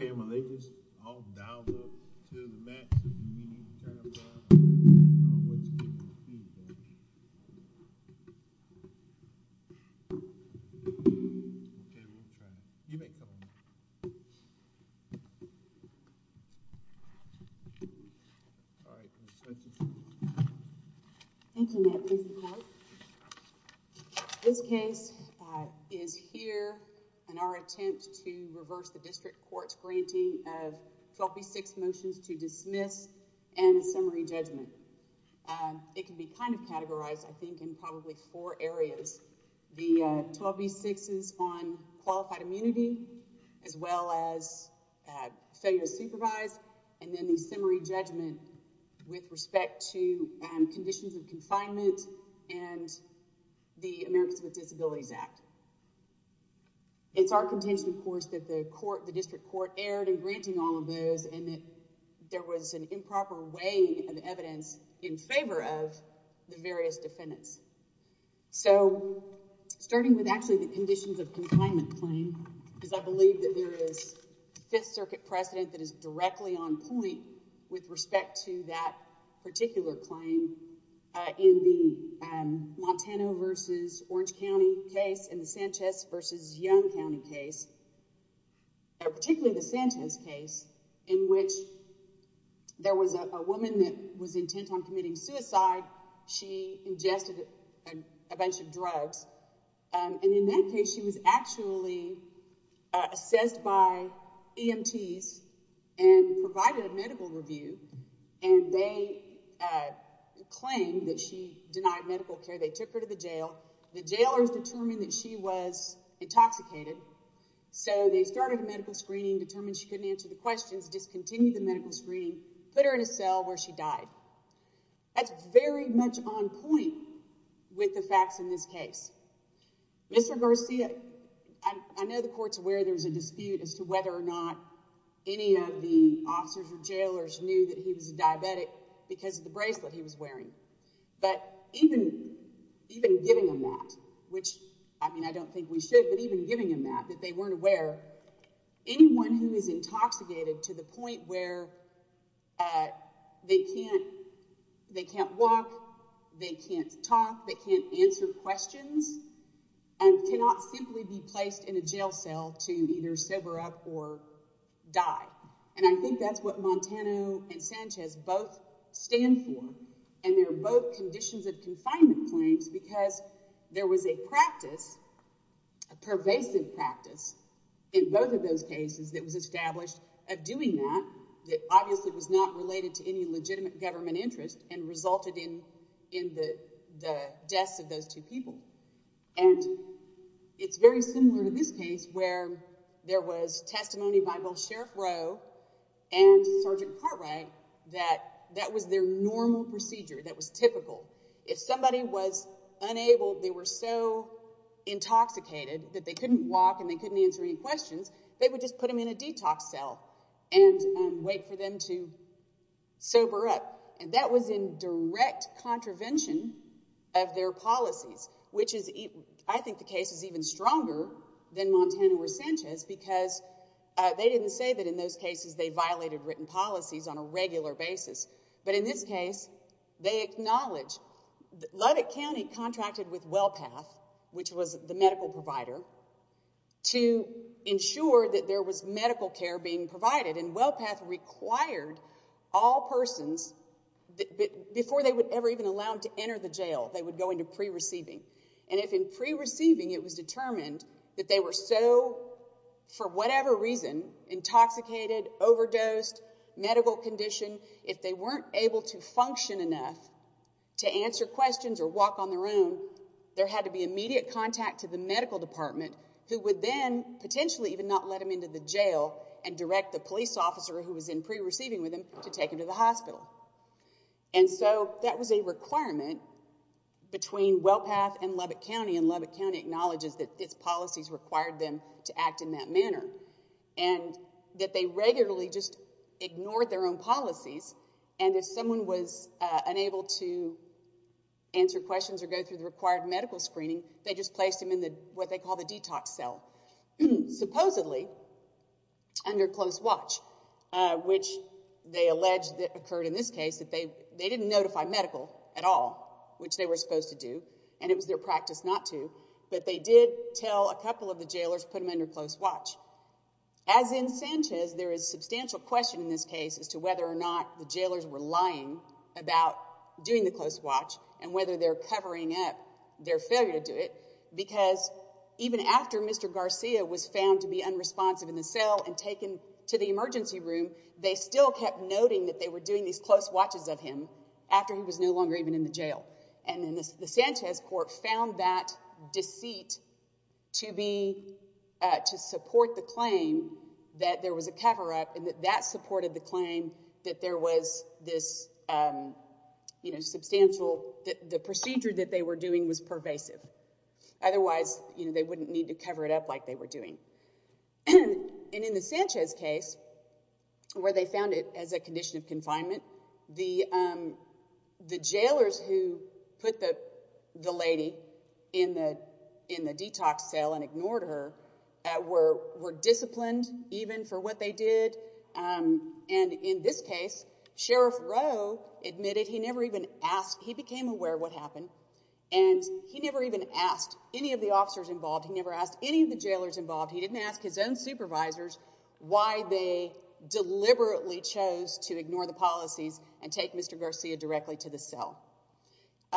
Heya my ladies, all dialed up to the max, we need a job done, we need a job done, we need a job done, we need a job done, we need a job done. It can be kind of categorized, I think, in probably four areas, the 12B6s on qualified immunity, as well as failure to supervise, and then the summary judgment with respect to conditions of confinement and the Americans with Disabilities Act. It's our contention, of course, that the district court erred in granting all of those and that there was an improper weighing of evidence in favor of the various defendants. So, starting with actually the conditions of confinement claim, because I believe that there is Fifth Circuit precedent that is directly on point with respect to that particular claim in the Montano v. Orange County case and the Sanchez v. Young County case. Particularly the Sanchez case, in which there was a woman that was intent on committing suicide, she ingested a bunch of drugs, and in that case she was actually assessed by EMTs and provided a medical review, and they claimed that she denied medical care. They took her to the jail. The jailers determined that she was intoxicated, so they started a medical screening, determined she couldn't answer the questions, discontinued the medical screening, put her in a cell where she died. That's very much on point with the facts in this case. Mr. Garcia, I know the court's aware there's a dispute as to whether or not any of the officers or jailers knew that he was a diabetic because of the bracelet he was wearing. But even giving them that, which, I mean, I don't think we should, but even giving them that, that they weren't aware, anyone who is intoxicated to the point where they can't walk, they can't talk, they can't answer questions, cannot simply be placed in a jail cell to either sober up or die. And I think that's what Montano and Sanchez both stand for, and they're both conditions of confinement claims because there was a practice, a pervasive practice, in both of those cases that was established of doing that, that obviously was not related to any legitimate government interest and resulted in the deaths of those two people. And it's very similar to this case where there was testimony by both Sheriff Rowe and Sergeant Cartwright that that was their normal procedure, that was typical. If somebody was unable, they were so intoxicated that they couldn't walk and they couldn't answer any questions, they would just put them in a detox cell and wait for them to sober up. And that was in direct contravention of their policies, which is, I think the case is even stronger than Montano or Sanchez because they didn't say that in those cases they violated written policies on a regular basis. But in this case, they acknowledge that Lubbock County contracted with WellPath, which was the medical provider, to ensure that there was medical care being provided, and WellPath required all persons, before they were ever even allowed to enter the jail, they would go into pre-receiving. And if in pre-receiving it was determined that they were so, for whatever reason, intoxicated, overdosed, medical condition, if they weren't able to function enough to answer questions or walk on their own, there had to be immediate contact to the medical department who would then potentially even not let them into the jail and direct the police officer who was in pre-receiving with them to take them to the hospital. And so that was a requirement between WellPath and Lubbock County, and Lubbock County acknowledges that its policies required them to act in that manner, and that they regularly just ignored their own policies, and if someone was unable to answer questions or go through the required medical screening, they just placed them in what they call the detox cell. Supposedly, under close watch, which they allege that occurred in this case, that they didn't notify medical at all, which they were supposed to do, and it was their practice not to, but they did tell a couple of the jailers to put them under close watch. As in Sanchez, there is substantial question in this case as to whether or not the jailers were lying about doing the close watch and whether they're covering up their failure to do it, because even after Mr. Garcia was found to be unresponsive in the cell and taken to the emergency room, they still kept noting that they were doing these close watches of him after he was no longer even in the jail. And then the Sanchez court found that deceit to support the claim that there was a cover-up, and that that supported the claim that the procedure that they were doing was pervasive. Otherwise, they wouldn't need to cover it up like they were doing. And in the Sanchez case, where they found it as a condition of confinement, the jailers who put the lady in the detox cell and ignored her were disciplined even for what they did. And in this case, Sheriff Rowe admitted he never even asked—he became aware of what happened, and he never even asked any of the officers involved, he never asked any of the jailers involved, he didn't ask his own supervisors why they deliberately chose to ignore the policies and take Mr. Garcia directly to the cell.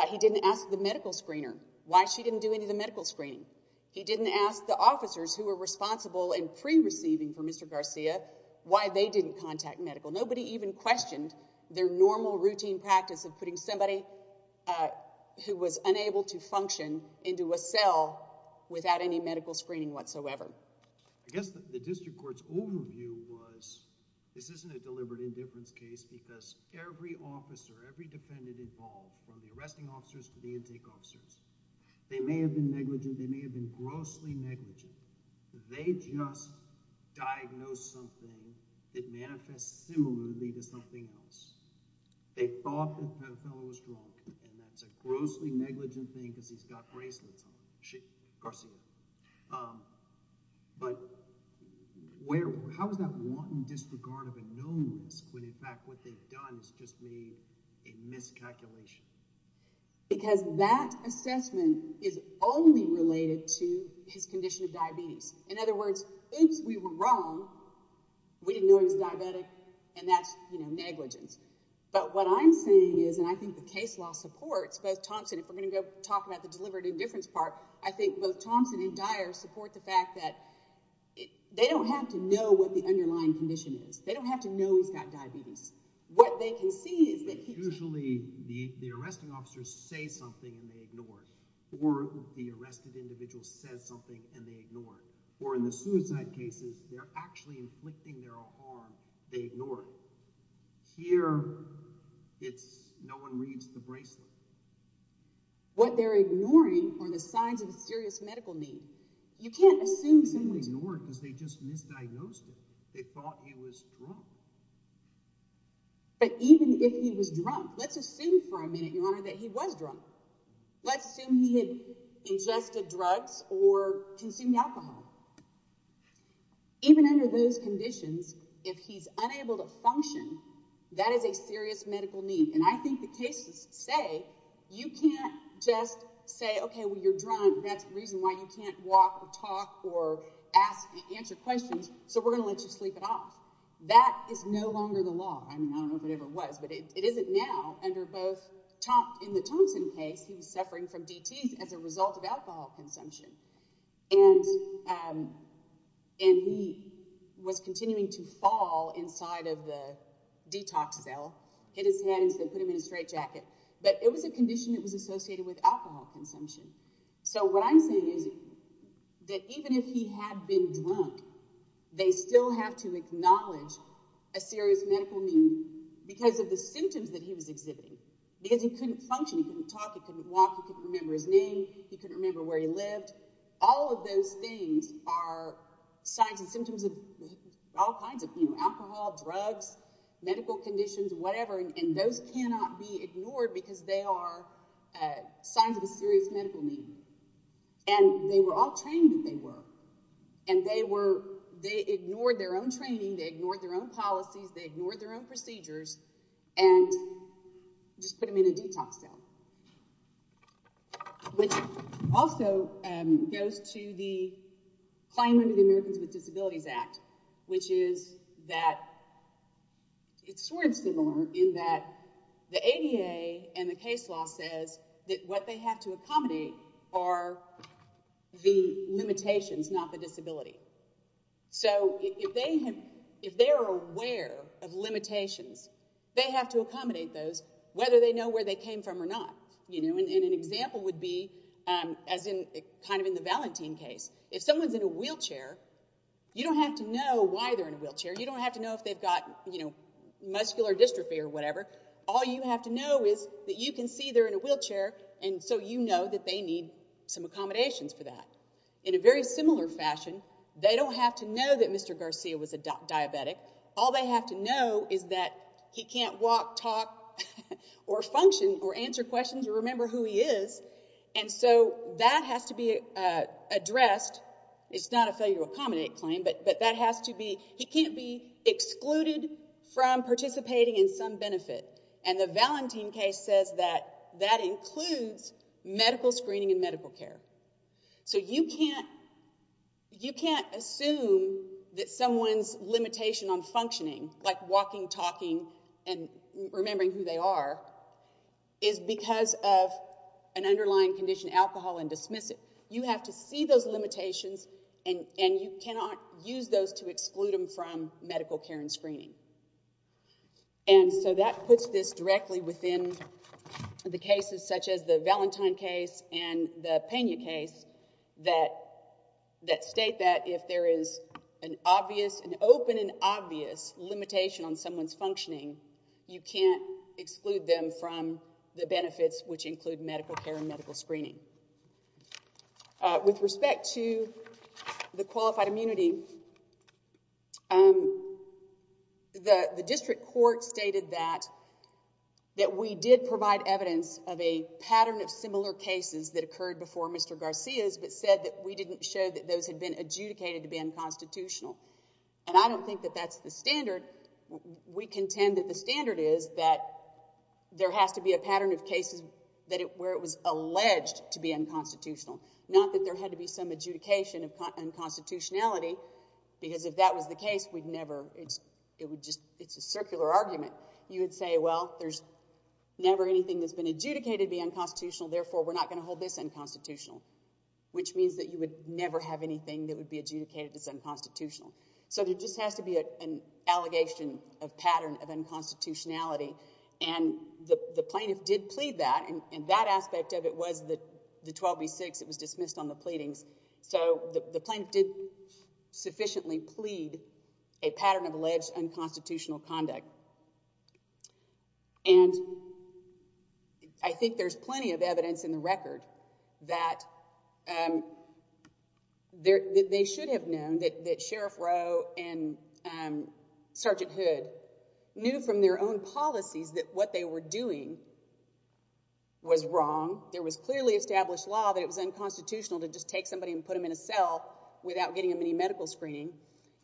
He didn't ask the medical screener why she didn't do any of the medical screening. He didn't ask the officers who were responsible in pre-receiving for Mr. Garcia why they didn't contact medical. Nobody even questioned their normal routine practice of putting somebody who was unable to function into a cell without any medical screening whatsoever. I guess the district court's overview was this isn't a deliberate indifference case because every officer, every defendant involved, from the arresting officers to the intake officers, they may have been negligent, they may have been grossly negligent. They just diagnosed something that manifests similarly to something else. They thought that the fellow was drunk, and that's a grossly negligent thing because he's got bracelets on, Garcia. But how is that wanton disregard of a knownness when in fact what they've done is just made a miscalculation? Because that assessment is only related to his condition of diabetes. In other words, oops, we were wrong, we didn't know he was diabetic, and that's negligence. But what I'm saying is, and I think the case law supports both Thompson, if we're going to go talk about the deliberate indifference part, I think both Thompson and Dyer support the fact that they don't have to know what the underlying condition is. They don't have to know he's got diabetes. Usually the arresting officers say something and they ignore it, or the arrested individual says something and they ignore it. Or in the suicide cases, they're actually inflicting their own harm, they ignore it. Here, no one reads the bracelet. What they're ignoring are the signs of serious medical need. You can't assume someone ignored it because they just misdiagnosed it. They thought he was drunk. But even if he was drunk, let's assume for a minute, Your Honor, that he was drunk. Let's assume he had ingested drugs or consumed alcohol. Even under those conditions, if he's unable to function, that is a serious medical need. And I think the cases say you can't just say, okay, well, you're drunk, that's the reason why you can't walk or talk or answer questions, so we're going to let you sleep at all. That is no longer the law. I mean, I don't know if it ever was, but it isn't now. In the Thompson case, he was suffering from DTs as a result of alcohol consumption. And he was continuing to fall inside of the detox cell. Hit his head and put him in a straitjacket. But it was a condition that was associated with alcohol consumption. So what I'm saying is that even if he had been drunk, they still have to acknowledge a serious medical need because of the symptoms that he was exhibiting. Because he couldn't function. He couldn't talk. He couldn't walk. He couldn't remember his name. He couldn't remember where he lived. All of those things are signs and symptoms of all kinds of alcohol, drugs, medical conditions, whatever. And those cannot be ignored because they are signs of a serious medical need. And they were all trained that they were. And they ignored their own training. They ignored their own policies. They ignored their own procedures and just put him in a detox cell. Which also goes to the Climb Under the Americans with Disabilities Act, which is that it's sort of similar in that the ADA and the case law says that what they have to accommodate are the limitations, not the disability. So if they are aware of limitations, they have to accommodate those whether they know where they came from or not. And an example would be as in kind of in the Valentin case. If someone's in a wheelchair, you don't have to know why they're in a wheelchair. You don't have to know if they've got muscular dystrophy or whatever. All you have to know is that you can see they're in a wheelchair, and so you know that they need some accommodations for that. In a very similar fashion, they don't have to know that Mr. Garcia was a diabetic. All they have to know is that he can't walk, talk, or function or answer questions or remember who he is. And so that has to be addressed. It's not a failure to accommodate claim, but that has to be he can't be excluded from participating in some benefit. And the Valentin case says that that includes medical screening and medical care. So you can't assume that someone's limitation on functioning, like walking, talking, and remembering who they are, is because of an underlying condition, alcohol, and dismissive. You have to see those limitations, and you cannot use those to exclude them from medical care and screening. And so that puts this directly within the cases, such as the Valentin case and the Pena case, that state that if there is an open and obvious limitation on someone's functioning, you can't exclude them from the benefits, which include medical care and medical screening. With respect to the qualified immunity, the district court stated that we did provide evidence of a pattern of similar cases that occurred before Mr. Garcia's, but said that we didn't show that those had been adjudicated to be unconstitutional. And I don't think that that's the standard. We contend that the standard is that there has to be a pattern of cases where it was alleged to be unconstitutional, not that there had to be some adjudication of unconstitutionality, because if that was the case, it's a circular argument. You would say, well, there's never anything that's been adjudicated to be unconstitutional, therefore we're not going to hold this unconstitutional, which means that you would never have anything that would be adjudicated as unconstitutional. So there just has to be an allegation of pattern of unconstitutionality. And the plaintiff did plead that, and that aspect of it was the 12 v. 6. It was dismissed on the pleadings. So the plaintiff did sufficiently plead a pattern of alleged unconstitutional conduct. And I think there's plenty of evidence in the record that they should have known that Sheriff Rowe and Sergeant Hood knew from their own policies that what they were doing was wrong. There was clearly established law that it was unconstitutional to just take somebody and put them in a cell without getting a mini-medical screening,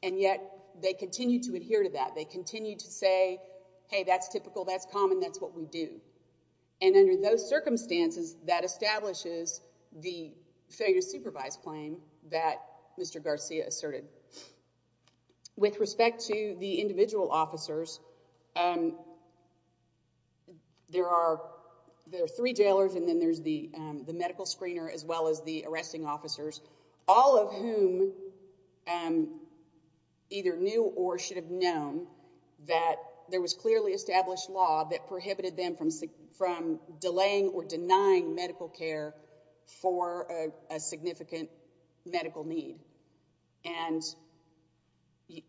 and yet they continued to adhere to that. They continued to say, hey, that's typical, that's common, that's what we do. And under those circumstances, that establishes the failure to supervise claim that Mr. Garcia asserted. With respect to the individual officers, there are three jailers, and then there's the medical screener as well as the arresting officers, all of whom either knew or should have known that there was clearly established law that prohibited them from delaying or denying medical care for a significant medical need. And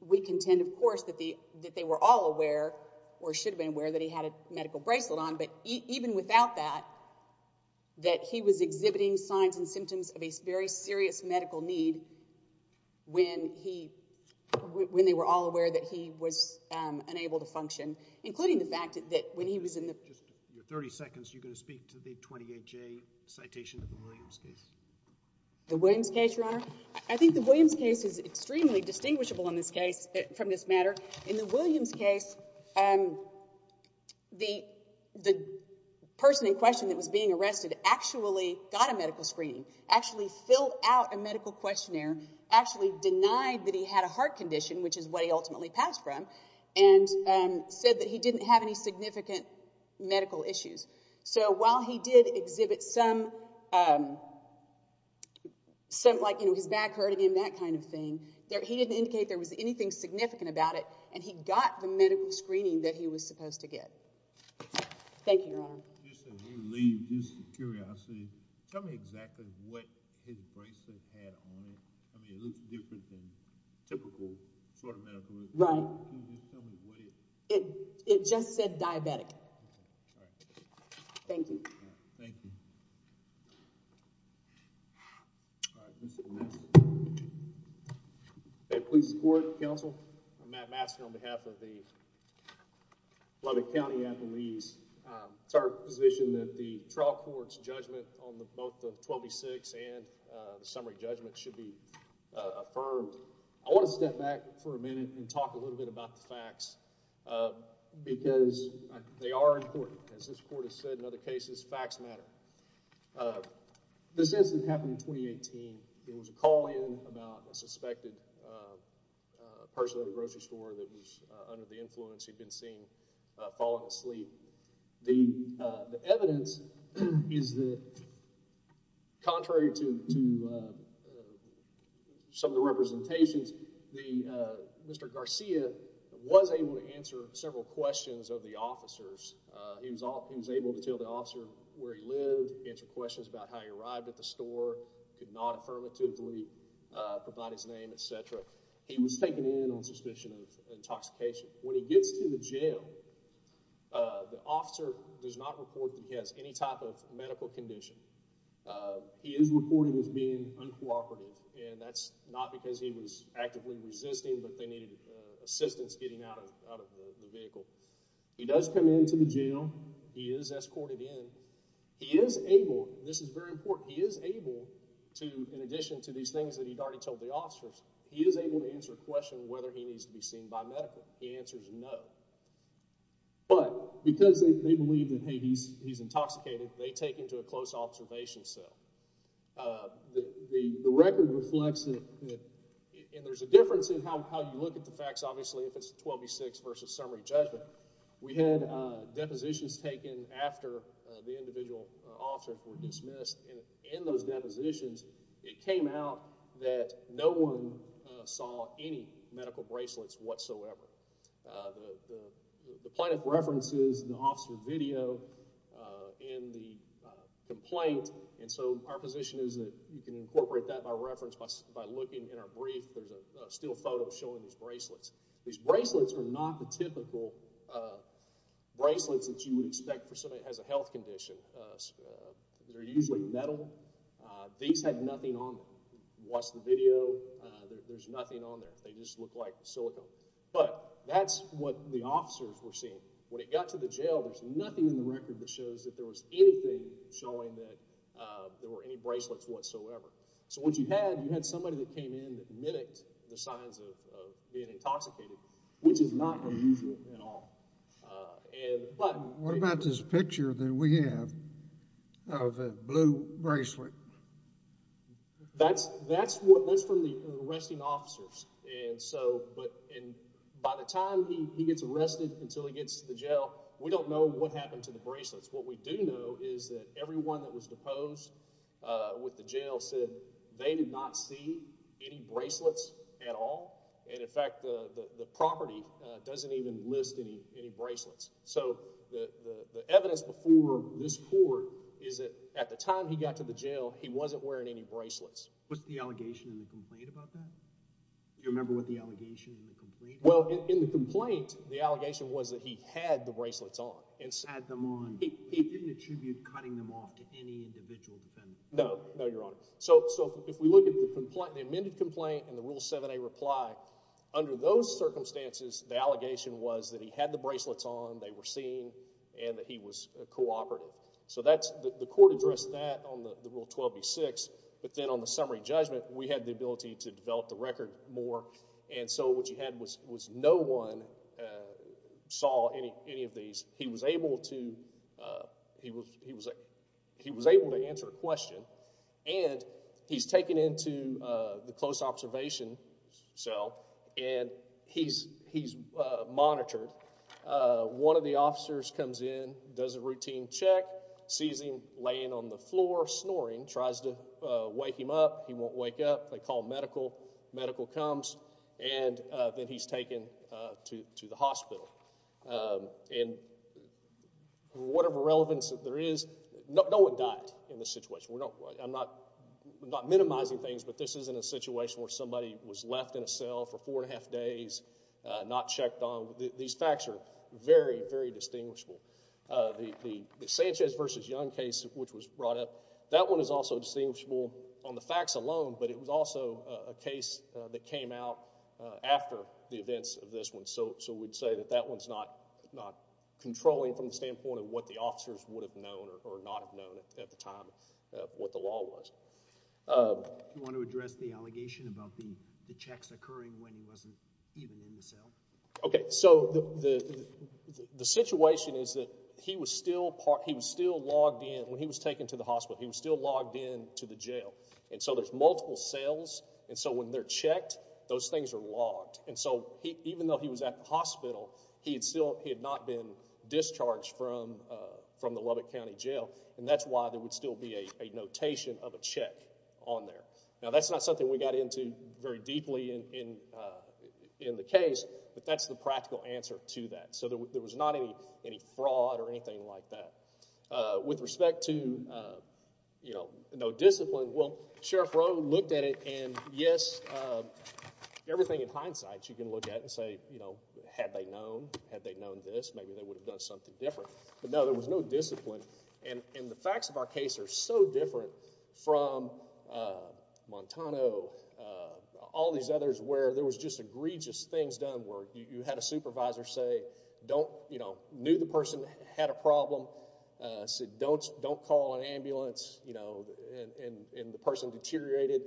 we contend, of course, that they were all aware or should have been aware that he had a medical bracelet on, but even without that, that he was exhibiting signs and symptoms of a very serious medical need when they were all aware that he was unable to function, including the fact that when he was in the- In your 30 seconds, you're going to speak to the 28J citation of the Williams case. The Williams case, Your Honor? I think the Williams case is extremely distinguishable in this case from this matter. In the Williams case, the person in question that was being arrested actually got a medical screening, actually filled out a medical questionnaire, actually denied that he had a heart condition, which is what he ultimately passed from, and said that he didn't have any significant medical issues. So while he did exhibit some, like his back hurting and that kind of thing, he didn't indicate there was anything significant about it, and he got the medical screening that he was supposed to get. Thank you, Your Honor. Just out of curiosity, tell me exactly what his bracelet had on it. I mean, it looked different than typical sort of medical equipment. Right. It just said diabetic. Thank you. Thank you. All right. Mr. Mastin. Please support, counsel. I'm Matt Mastin on behalf of the Lubbock County athletes. It's our position that the trial court's judgment on both the 12B6 and the summary judgment should be affirmed. I want to step back for a minute and talk a little bit about the facts because they are important. As this court has said in other cases, facts matter. This incident happened in 2018. There was a call in about a suspected person at a grocery store that was under the influence. He'd been seen falling asleep. The evidence is that, contrary to some of the representations, Mr. Garcia was able to answer several questions of the officers. He was able to tell the officer where he lived, answer questions about how he arrived at the store, could not affirmatively provide his name, et cetera. He was taken in on suspicion of intoxication. When he gets to the jail, the officer does not report that he has any type of medical condition. He is reported as being uncooperative, and that's not because he was actively resisting, but they needed assistance getting out of the vehicle. He does come into the jail. He is escorted in. He is able, and this is very important, he is able to, in addition to these things that he'd already told the officers, he is able to answer questions whether he needs to be seen by medical. He answers no. But because they believe that, hey, he's intoxicated, they take him to a close observation cell. The record reflects that, and there's a difference in how you look at the facts, obviously, if it's a 12 v. 6 versus summary judgment. We had depositions taken after the individual or officer were dismissed, and in those depositions, it came out that no one saw any medical bracelets whatsoever. The plaintiff references the officer's video in the complaint, and so our position is that you can incorporate that by reference by looking in our brief. There's a still photo showing these bracelets. These bracelets are not the typical bracelets that you would expect for somebody that has a health condition. They're usually metal. These had nothing on them. Watch the video. There's nothing on there. They just look like silicone, but that's what the officers were seeing. When it got to the jail, there's nothing in the record that shows that there was anything showing that there were any bracelets whatsoever. So what you had, you had somebody that came in that mimicked the signs of being intoxicated, which is not unusual at all. What about this picture that we have of a blue bracelet? That's from the arresting officers. By the time he gets arrested until he gets to the jail, we don't know what happened to the bracelets. What we do know is that everyone that was deposed with the jail said they did not see any bracelets at all, and in fact, the property doesn't even list any bracelets. So the evidence before this court is that at the time he got to the jail, he wasn't wearing any bracelets. Was the allegation in the complaint about that? Do you remember what the allegation in the complaint was? Well, in the complaint, the allegation was that he had the bracelets on. Had them on. He didn't attribute cutting them off to any individual defendant. No, no, Your Honor. So if we look at the amended complaint and the Rule 7a reply, under those circumstances, the allegation was that he had the bracelets on, they were seen, and that he was cooperative. So the court addressed that on the Rule 12b-6, but then on the summary judgment, we had the ability to develop the record more, and so what you had was no one saw any of these. He was able to answer a question, and he's taken into the close observation cell, and he's monitored. One of the officers comes in, does a routine check, sees him laying on the floor snoring, tries to wake him up. He won't wake up. They call medical. Medical comes, and then he's taken to the hospital. And whatever relevance that there is, no one died in this situation. I'm not minimizing things, but this isn't a situation where somebody was left in a cell for four and a half days, not checked on. These facts are very, very distinguishable. The Sanchez v. Young case which was brought up, that one is also distinguishable on the facts alone, but it was also a case that came out after the events of this one. So we'd say that that one's not controlling from the standpoint of what the officers would have known or not have known at the time what the law was. Do you want to address the allegation about the checks occurring when he wasn't even in the cell? Okay, so the situation is that he was still logged in. When he was taken to the hospital, he was still logged in to the jail. And so there's multiple cells, and so when they're checked, those things are logged. And so even though he was at the hospital, he had not been discharged from the Lubbock County Jail, and that's why there would still be a notation of a check on there. Now, that's not something we got into very deeply in the case, but that's the practical answer to that. So there was not any fraud or anything like that. With respect to, you know, no discipline, well, Sheriff Rowe looked at it, and yes, everything in hindsight you can look at and say, you know, had they known, had they known this, maybe they would have done something different. But no, there was no discipline, and the facts of our case are so different from Montano, all these others, where there was just egregious things done where you had a supervisor say, you know, knew the person had a problem, said don't call an ambulance, you know, and the person deteriorated,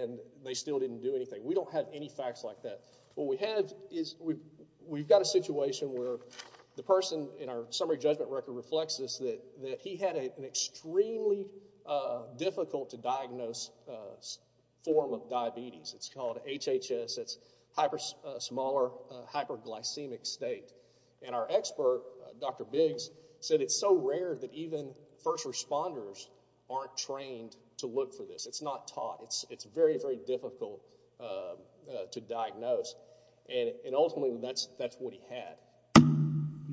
and they still didn't do anything. We don't have any facts like that. What we have is we've got a situation where the person in our summary judgment record reflects this, that he had an extremely difficult to diagnose form of diabetes. It's called HHS. It's a smaller hyperglycemic state, and our expert, Dr. Biggs, said it's so rare that even first responders aren't trained to look for this. It's not taught. It's very, very difficult to diagnose, and ultimately that's what he had. He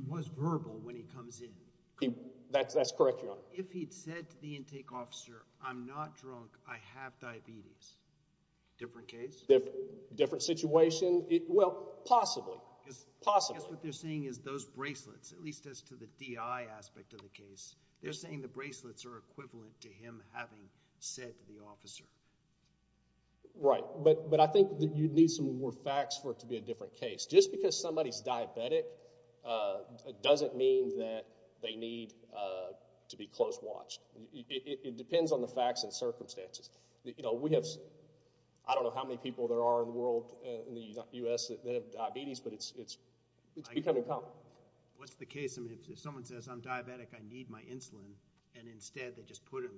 was verbal when he comes in. That's correct, Your Honor. Well, if he'd said to the intake officer, I'm not drunk, I have diabetes, different case? Different situation? Well, possibly, possibly. I guess what they're saying is those bracelets, at least as to the DI aspect of the case, they're saying the bracelets are equivalent to him having said to the officer. Right, but I think that you need some more facts for it to be a different case. Just because somebody's diabetic doesn't mean that they need to be close watched. It depends on the facts and circumstances. You know, we have, I don't know how many people there are in the world, in the U.S., that have diabetes, but it's becoming common. What's the case if someone says, I'm diabetic, I need my insulin, and instead they just put him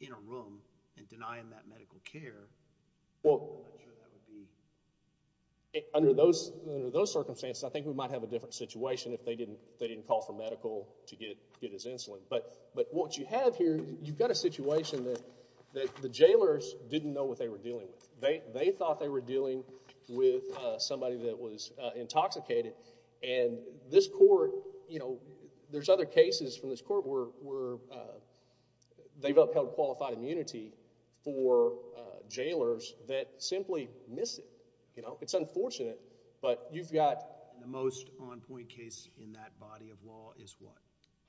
in a room and deny him that medical care? Well, under those circumstances, I think we might have a different situation if they didn't call for medical to get his insulin. But what you have here, you've got a situation that the jailers didn't know what they were dealing with. They thought they were dealing with somebody that was intoxicated, and this court, you know, there's other cases from this court where they've upheld qualified immunity for jailers that simply miss it. You know, it's unfortunate, but you've got... The most on-point case in that body of law is what?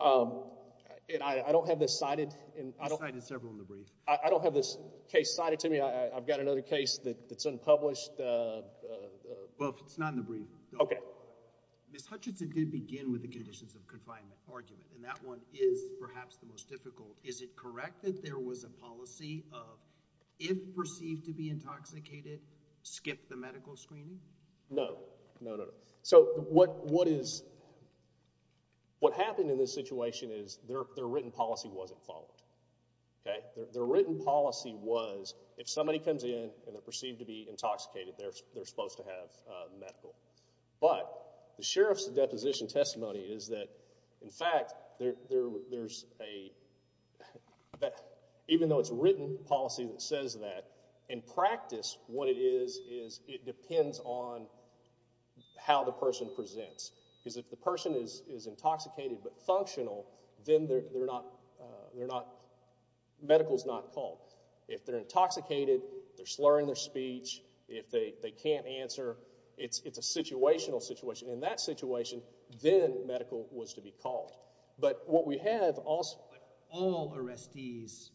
I don't have this cited. You've cited several in the brief. I don't have this case cited to me. I've got another case that's unpublished. Well, it's not in the brief. Okay. Ms. Hutchinson did begin with the conditions of confinement argument, and that one is perhaps the most difficult. Is it correct that there was a policy of if perceived to be intoxicated, skip the medical screening? No. No, no, no. So what happened in this situation is their written policy wasn't followed. Their written policy was if somebody comes in and they're perceived to be intoxicated, they're supposed to have medical. But the sheriff's deposition testimony is that, in fact, there's a... even though it's a written policy that says that, in practice what it is is it depends on how the person presents. Because if the person is intoxicated but functional, then they're not... medical is not called. If they're intoxicated, they're slurring their speech. If they can't answer, it's a situational situation. In that situation, then medical was to be called. But what we have also... But all arrestees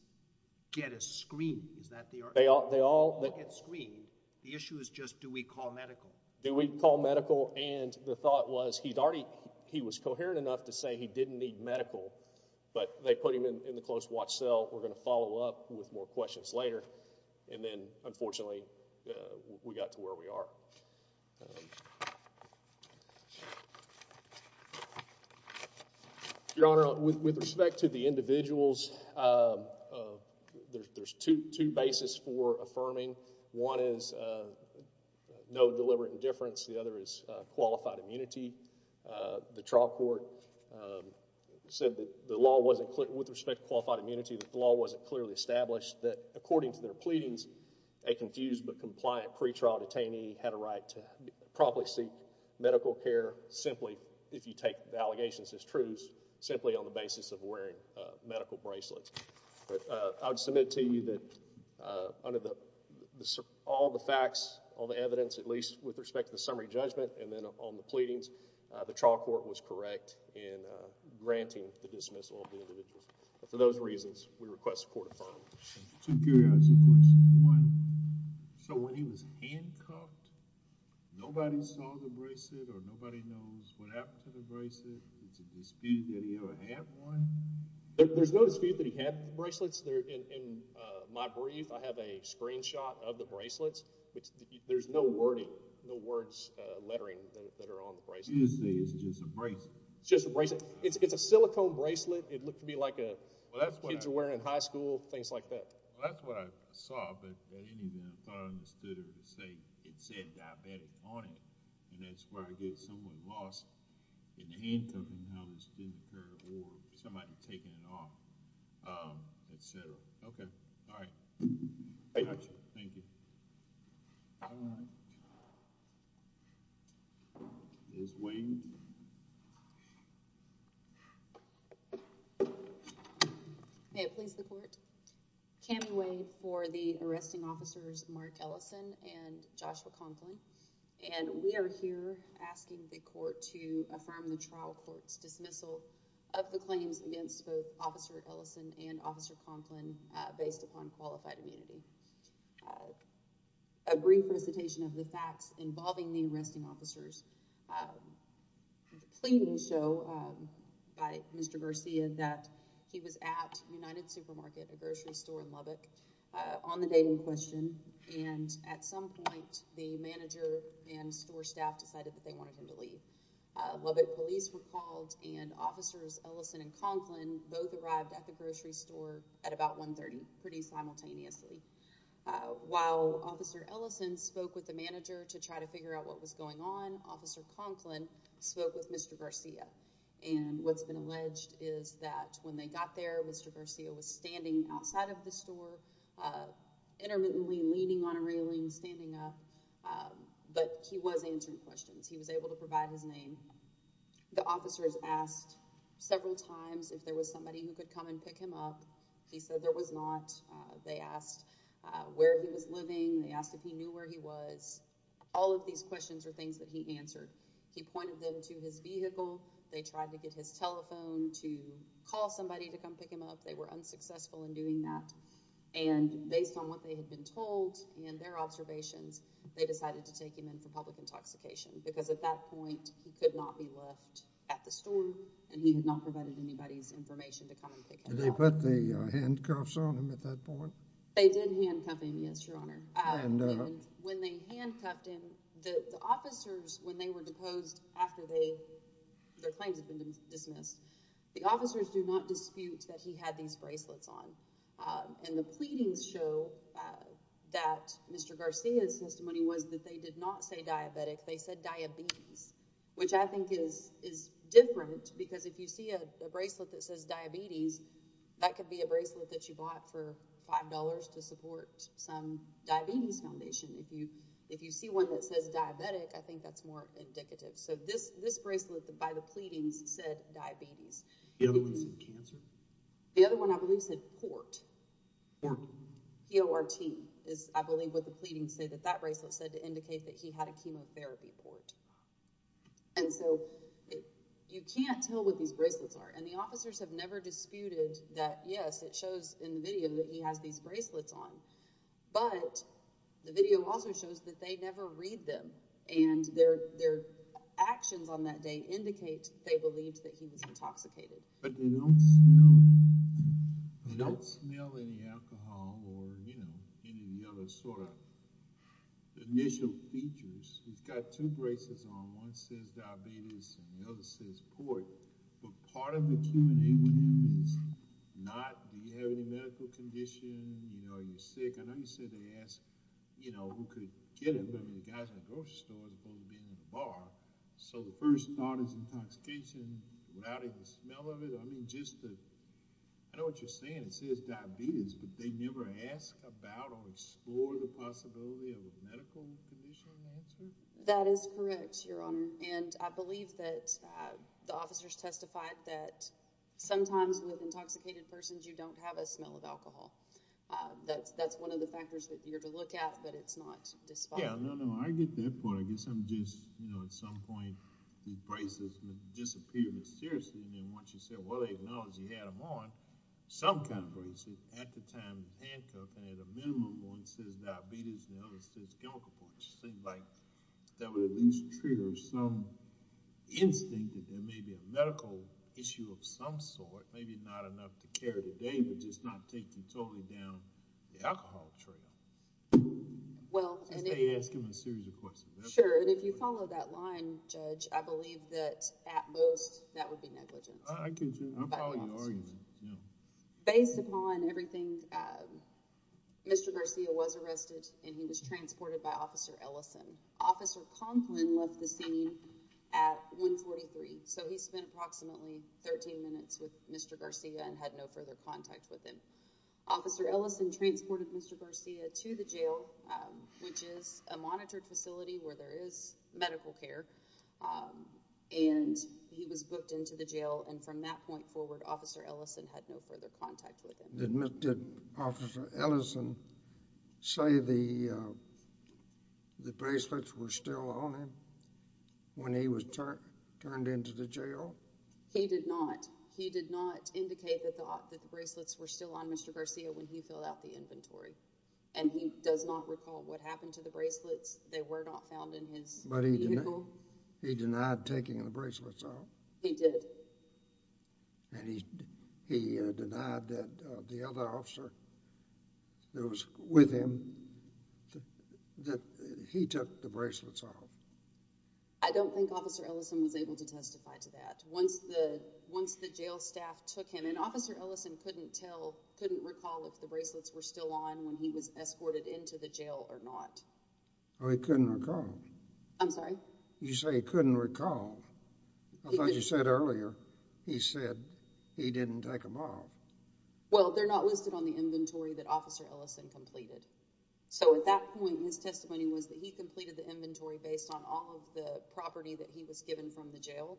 get a screen. Is that the argument? They all... They all get screened. The issue is just do we call medical? Do we call medical? And the thought was he was coherent enough to say he didn't need medical, but they put him in the close watch cell, we're going to follow up with more questions later. And then, unfortunately, we got to where we are. Your Honor, with respect to the individuals, there's two bases for affirming. One is no deliberate indifference. The other is qualified immunity. The trial court said that the law wasn't clear... A confused but compliant pretrial detainee had a right to properly seek medical care, simply, if you take the allegations as truths, simply on the basis of wearing medical bracelets. But I would submit to you that under all the facts, all the evidence, at least with respect to the summary judgment, and then on the pleadings, the trial court was correct in granting the dismissal of the individuals. But for those reasons, we request the court affirm. Two curiosity questions. One, so when he was handcuffed, nobody saw the bracelet or nobody knows what happened to the bracelet? Is there a dispute that he ever had one? There's no dispute that he had bracelets. In my brief, I have a screenshot of the bracelets. There's no wording, no words, lettering that are on the bracelets. You just say it's just a bracelet. It's just a bracelet. It's a silicone bracelet. Well, that's what I... Kids were wearing in high school, things like that. Well, that's what I saw, but at any rate, I thought I understood it. It said diabetic on it, and that's where I guess someone lost it. In the handcuffing house, didn't care, or somebody taking it off, et cetera. Okay. All right. Thank you. Thank you. All right. Is Wade... May it please the court. Tammy Wade for the arresting officers Mark Ellison and Joshua Conklin. And we are here asking the court to affirm the trial court's dismissal of the claims against both Officer Ellison and Officer Conklin based upon qualified immunity. A brief presentation of the facts involving the arresting officers. Cleaning show by Mr. Garcia that he was at United Supermarket, a grocery store in Lubbock, on the day in question. And at some point, the manager and store staff decided that they wanted him to leave. Lubbock police were called, and Officers Ellison and Conklin both arrived at the grocery store at about 1.30, pretty simultaneously. While Officer Ellison spoke with the manager to try to figure out what was going on Officer Conklin spoke with Mr. Garcia. And what's been alleged is that when they got there, Mr. Garcia was standing outside of the store, intermittently leaning on a railing, standing up, but he was answering questions. He was able to provide his name. The officers asked several times if there was somebody who could come and pick him up. He said there was not. They asked where he was living. They asked if he knew where he was. All of these questions were things that he answered. He pointed them to his vehicle. They tried to get his telephone to call somebody to come pick him up. They were unsuccessful in doing that. And based on what they had been told and their observations, they decided to take him in for public intoxication. Because at that point, he could not be left at the store, and he had not provided anybody's information to come and pick him up. Did they put the handcuffs on him at that point? They did handcuff him, yes, Your Honor. When they handcuffed him, the officers, when they were deposed after their claims had been dismissed, the officers do not dispute that he had these bracelets on. And the pleadings show that Mr. Garcia's testimony was that they did not say diabetic. They said diabetes, which I think is different, because if you see a bracelet that says diabetes, that could be a bracelet that you bought for $5 to support some diabetes foundation. If you see one that says diabetic, I think that's more indicative. So this bracelet by the pleadings said diabetes. The other one said cancer? The other one, I believe, said port. Port? P-O-R-T is, I believe, what the pleadings say, that that bracelet said to indicate that he had a chemotherapy port. And so you can't tell what these bracelets are. And the officers have never disputed that, yes, it shows in the video that he has these bracelets on. But the video also shows that they never read them. And their actions on that day indicate they believed that he was intoxicated. But they don't smell any alcohol or any of the other sort of initial features. He's got two bracelets on. One says diabetes and the other says port. But part of the Q&A was not, do you have any medical condition? Are you sick? I know you said they asked who could get him. I mean, the guy's in a grocery store as opposed to being in a bar. So the first thought is intoxication without even the smell of it? I mean, just the ‑‑ I know what you're saying. It says diabetes, but they never ask about or explore the possibility of a medical condition? That is correct, Your Honor. And I believe that the officers testified that sometimes with intoxicated persons, you don't have a smell of alcohol. That's one of the factors that you're to look at, but it's not despite. Yeah, no, no, I get that point. I guess I'm just, you know, at some point these bracelets disappeared. But seriously, I mean, once you said, well, they acknowledge he had them on, some kind of bracelet at the time of the handcuff, and at a minimum one says diabetes and the other says chemical port. I just think, like, that would at least trigger some instinct that there may be a medical issue of some sort, maybe not enough to carry the day, but just not take you totally down the alcohol trail. Well, and if you follow that line, Judge, I believe that at most that would be negligent. I'm following your argument. Based upon everything, Mr. Garcia was arrested and he was transported by Officer Ellison. Officer Conklin left the scene at 143, so he spent approximately 13 minutes with Mr. Garcia and had no further contact with him. Officer Ellison transported Mr. Garcia to the jail, which is a monitored facility where there is medical care, and he was booked into the jail, and from that point forward, Officer Ellison had no further contact with him. Did Officer Ellison say the bracelets were still on him when he was turned into the jail? He did not. He did not indicate the thought that the bracelets were still on Mr. Garcia when he filled out the inventory, and he does not recall what happened to the bracelets. They were not found in his vehicle. But he denied taking the bracelets off? He did. And he denied that the other officer that was with him, that he took the bracelets off? I don't think Officer Ellison was able to testify to that. Once the jail staff took him, and Officer Ellison couldn't recall if the bracelets were still on when he was escorted into the jail or not. Oh, he couldn't recall? I'm sorry? You say he couldn't recall. I thought you said earlier he said he didn't take them off. Well, they're not listed on the inventory that Officer Ellison completed. So at that point, his testimony was that he completed the inventory based on all of the property that he was given from the jail,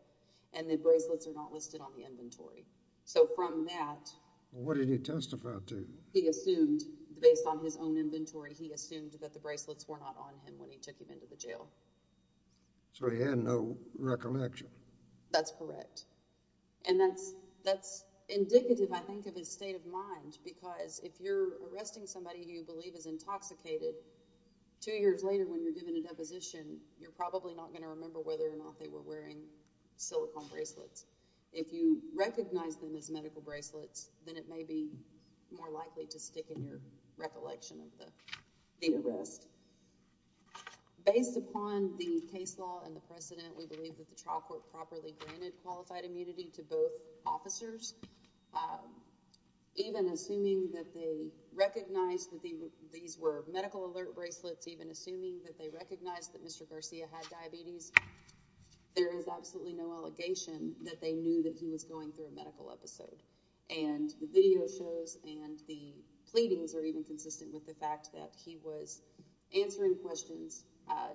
and the bracelets are not listed on the inventory. So from that— What did he testify to? He assumed, based on his own inventory, he assumed that the bracelets were not on him when he took him into the jail. So he had no recollection? That's correct. And that's indicative, I think, of his state of mind, because if you're arresting somebody who you believe is intoxicated, two years later when you're given a deposition, you're probably not going to remember whether or not they were wearing silicone bracelets. If you recognize them as medical bracelets, then it may be more likely to stick in your recollection of the arrest. Based upon the case law and the precedent, we believe that the trial court properly granted qualified immunity to both officers. Even assuming that they recognized that these were medical alert bracelets, even assuming that they recognized that Mr. Garcia had diabetes, there is absolutely no allegation that they knew that he was going through a medical episode. And the video shows and the pleadings are even consistent with the fact that he was answering questions.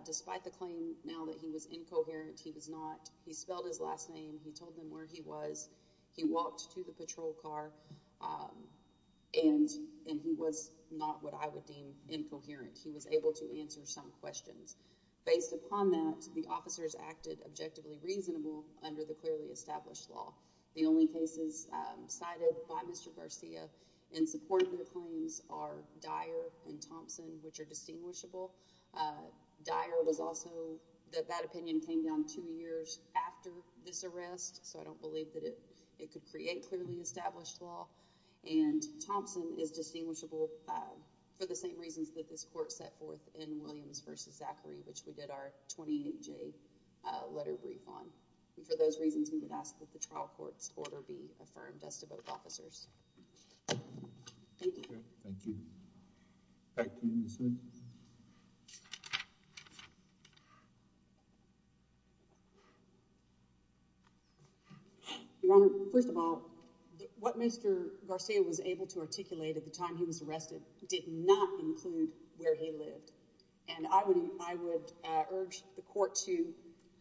Despite the claim now that he was incoherent, he was not. He spelled his last name. He told them where he was. He walked to the patrol car, and he was not what I would deem incoherent. He was able to answer some questions. Based upon that, the officers acted objectively reasonable under the clearly established law. The only cases cited by Mr. Garcia in support of their claims are Dyer and Thompson, which are distinguishable. Dyer was also—that opinion came down two years after this arrest, so I don't believe that it could create clearly established law. And Thompson is distinguishable for the same reasons that this court set forth in Williams v. Zachary, which we did our 28-J letter brief on. And for those reasons, we would ask that the trial court's order be affirmed as to both officers. Thank you. Thank you. Thank you, Ms. Smith. Your Honor, first of all, what Mr. Garcia was able to articulate at the time he was arrested did not include where he lived. And I would urge the court to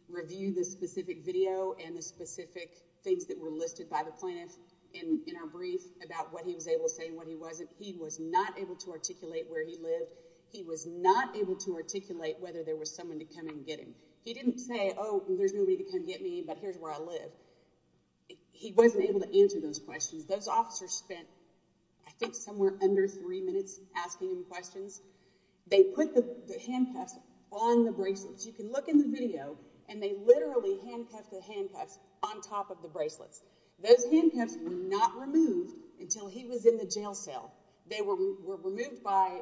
review the specific video and the specific things that were listed by the plaintiff in our brief about what he was able to say and what he wasn't. He was not able to articulate where he lived. He was not able to articulate whether there was someone to come and get him. He didn't say, oh, there's nobody to come get me, but here's where I live. He wasn't able to answer those questions. Those officers spent, I think, somewhere under three minutes asking him questions. They put the handcuffs on the bracelets. You can look in the video, and they literally handcuffed the handcuffs on top of the bracelets. Those handcuffs were not removed until he was in the jail cell. They were removed by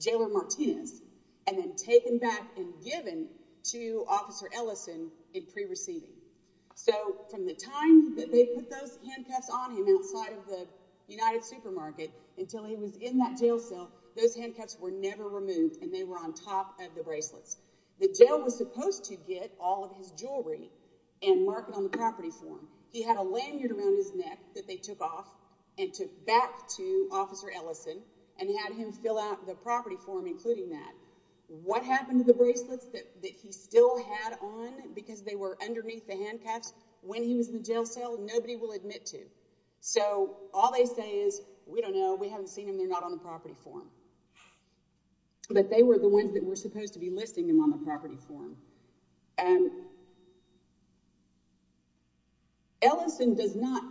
Jailer Martinez and then taken back and given to Officer Ellison in pre-receiving. So from the time that they put those handcuffs on him outside of the United Supermarket until he was in that jail cell, those handcuffs were never removed, and they were on top of the bracelets. The jail was supposed to get all of his jewelry and mark it on the property form. He had a lanyard around his neck that they took off and took back to Officer Ellison and had him fill out the property form including that. What happened to the bracelets that he still had on because they were underneath the handcuffs? When he was in the jail cell, nobody will admit to. So all they say is, we don't know, we haven't seen them, they're not on the property form. But they were the ones that were supposed to be listing them on the property form. Ellison does not,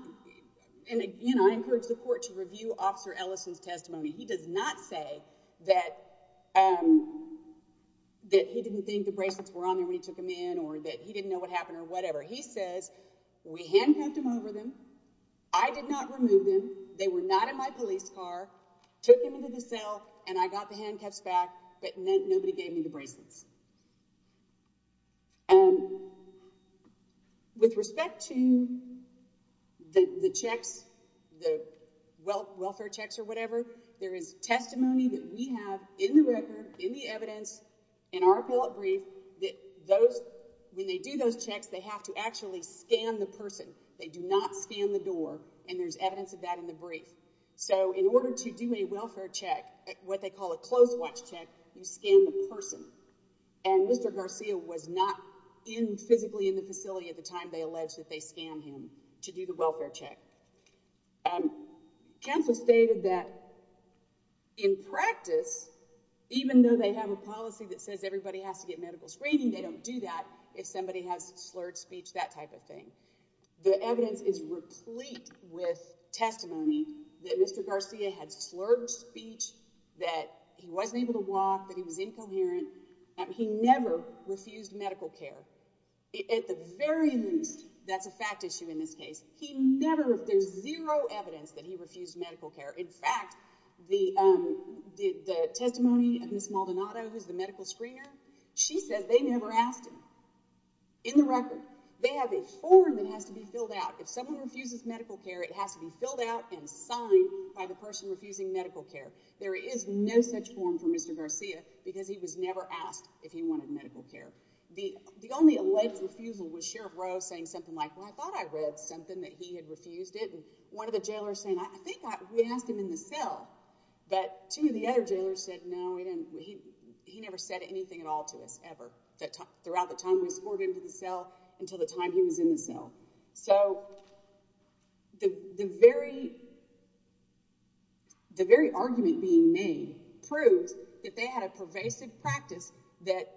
and again I encourage the court to review Officer Ellison's testimony. He does not say that he didn't think the bracelets were on there when he took them in or that he didn't know what happened or whatever. He says, we handcuffed him over them, I did not remove them, they were not in my police car, took him into the cell, and I got the handcuffs back, but nobody gave me the bracelets. With respect to the checks, the welfare checks or whatever, there is testimony that we have in the record, in the evidence, in our appellate brief, that when they do those checks, they have to actually scan the person. They do not scan the door, and there's evidence of that in the brief. So in order to do a welfare check, what they call a close watch check, you scan the person. And Mr. Garcia was not physically in the facility at the time they alleged that they scanned him to do the welfare check. Counsel stated that in practice, even though they have a policy that says everybody has to get medical screening, they don't do that if somebody has slurred speech, that type of thing. The evidence is replete with testimony that Mr. Garcia had slurred speech, that he wasn't able to walk, that he was incoherent, that he never refused medical care. At the very least, that's a fact issue in this case, he never, there's zero evidence that he refused medical care. In fact, the testimony of Ms. Maldonado, who's the medical screener, she says they never asked him. In the record, they have a form that has to be filled out. If someone refuses medical care, it has to be filled out and signed by the person refusing medical care. There is no such form for Mr. Garcia because he was never asked if he wanted medical care. The only alleged refusal was Sheriff Rose saying something like, well, I thought I read something that he had refused it. And one of the jailers saying, I think we asked him in the cell. But two of the other jailers said, no, he never said anything at all to us, ever, throughout the time we escorted him to the cell, until the time he was in the cell. So the very argument being made proves that they had a pervasive practice that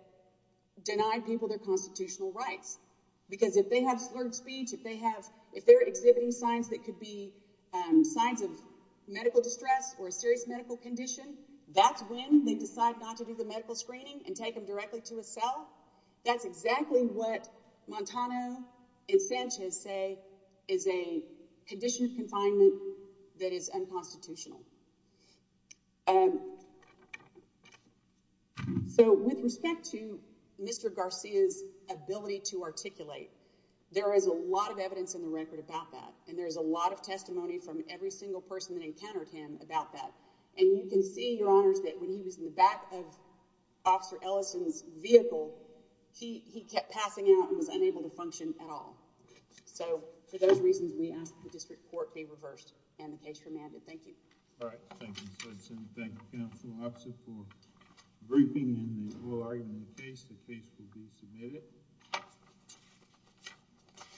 denied people their constitutional rights. Because if they have slurred speech, if they're exhibiting signs that could be signs of medical distress or a serious medical condition, that's when they decide not to do the medical screening and take them directly to a cell. That's exactly what Montano and Sanchez say is a condition of confinement that is unconstitutional. So with respect to Mr. Garcia's ability to articulate, there is a lot of evidence in the record about that. And there is a lot of testimony from every single person that encountered him about that. And you can see, Your Honors, that when he was in the back of Officer Ellison's vehicle, he kept passing out and was unable to function at all. So for those reasons, we ask that the district court be reversed and the case remanded. Thank you. All right. Thank you, Judge Simpson. Thank you, Counsel Officer, for briefing and the oral argument case. The case will be submitted.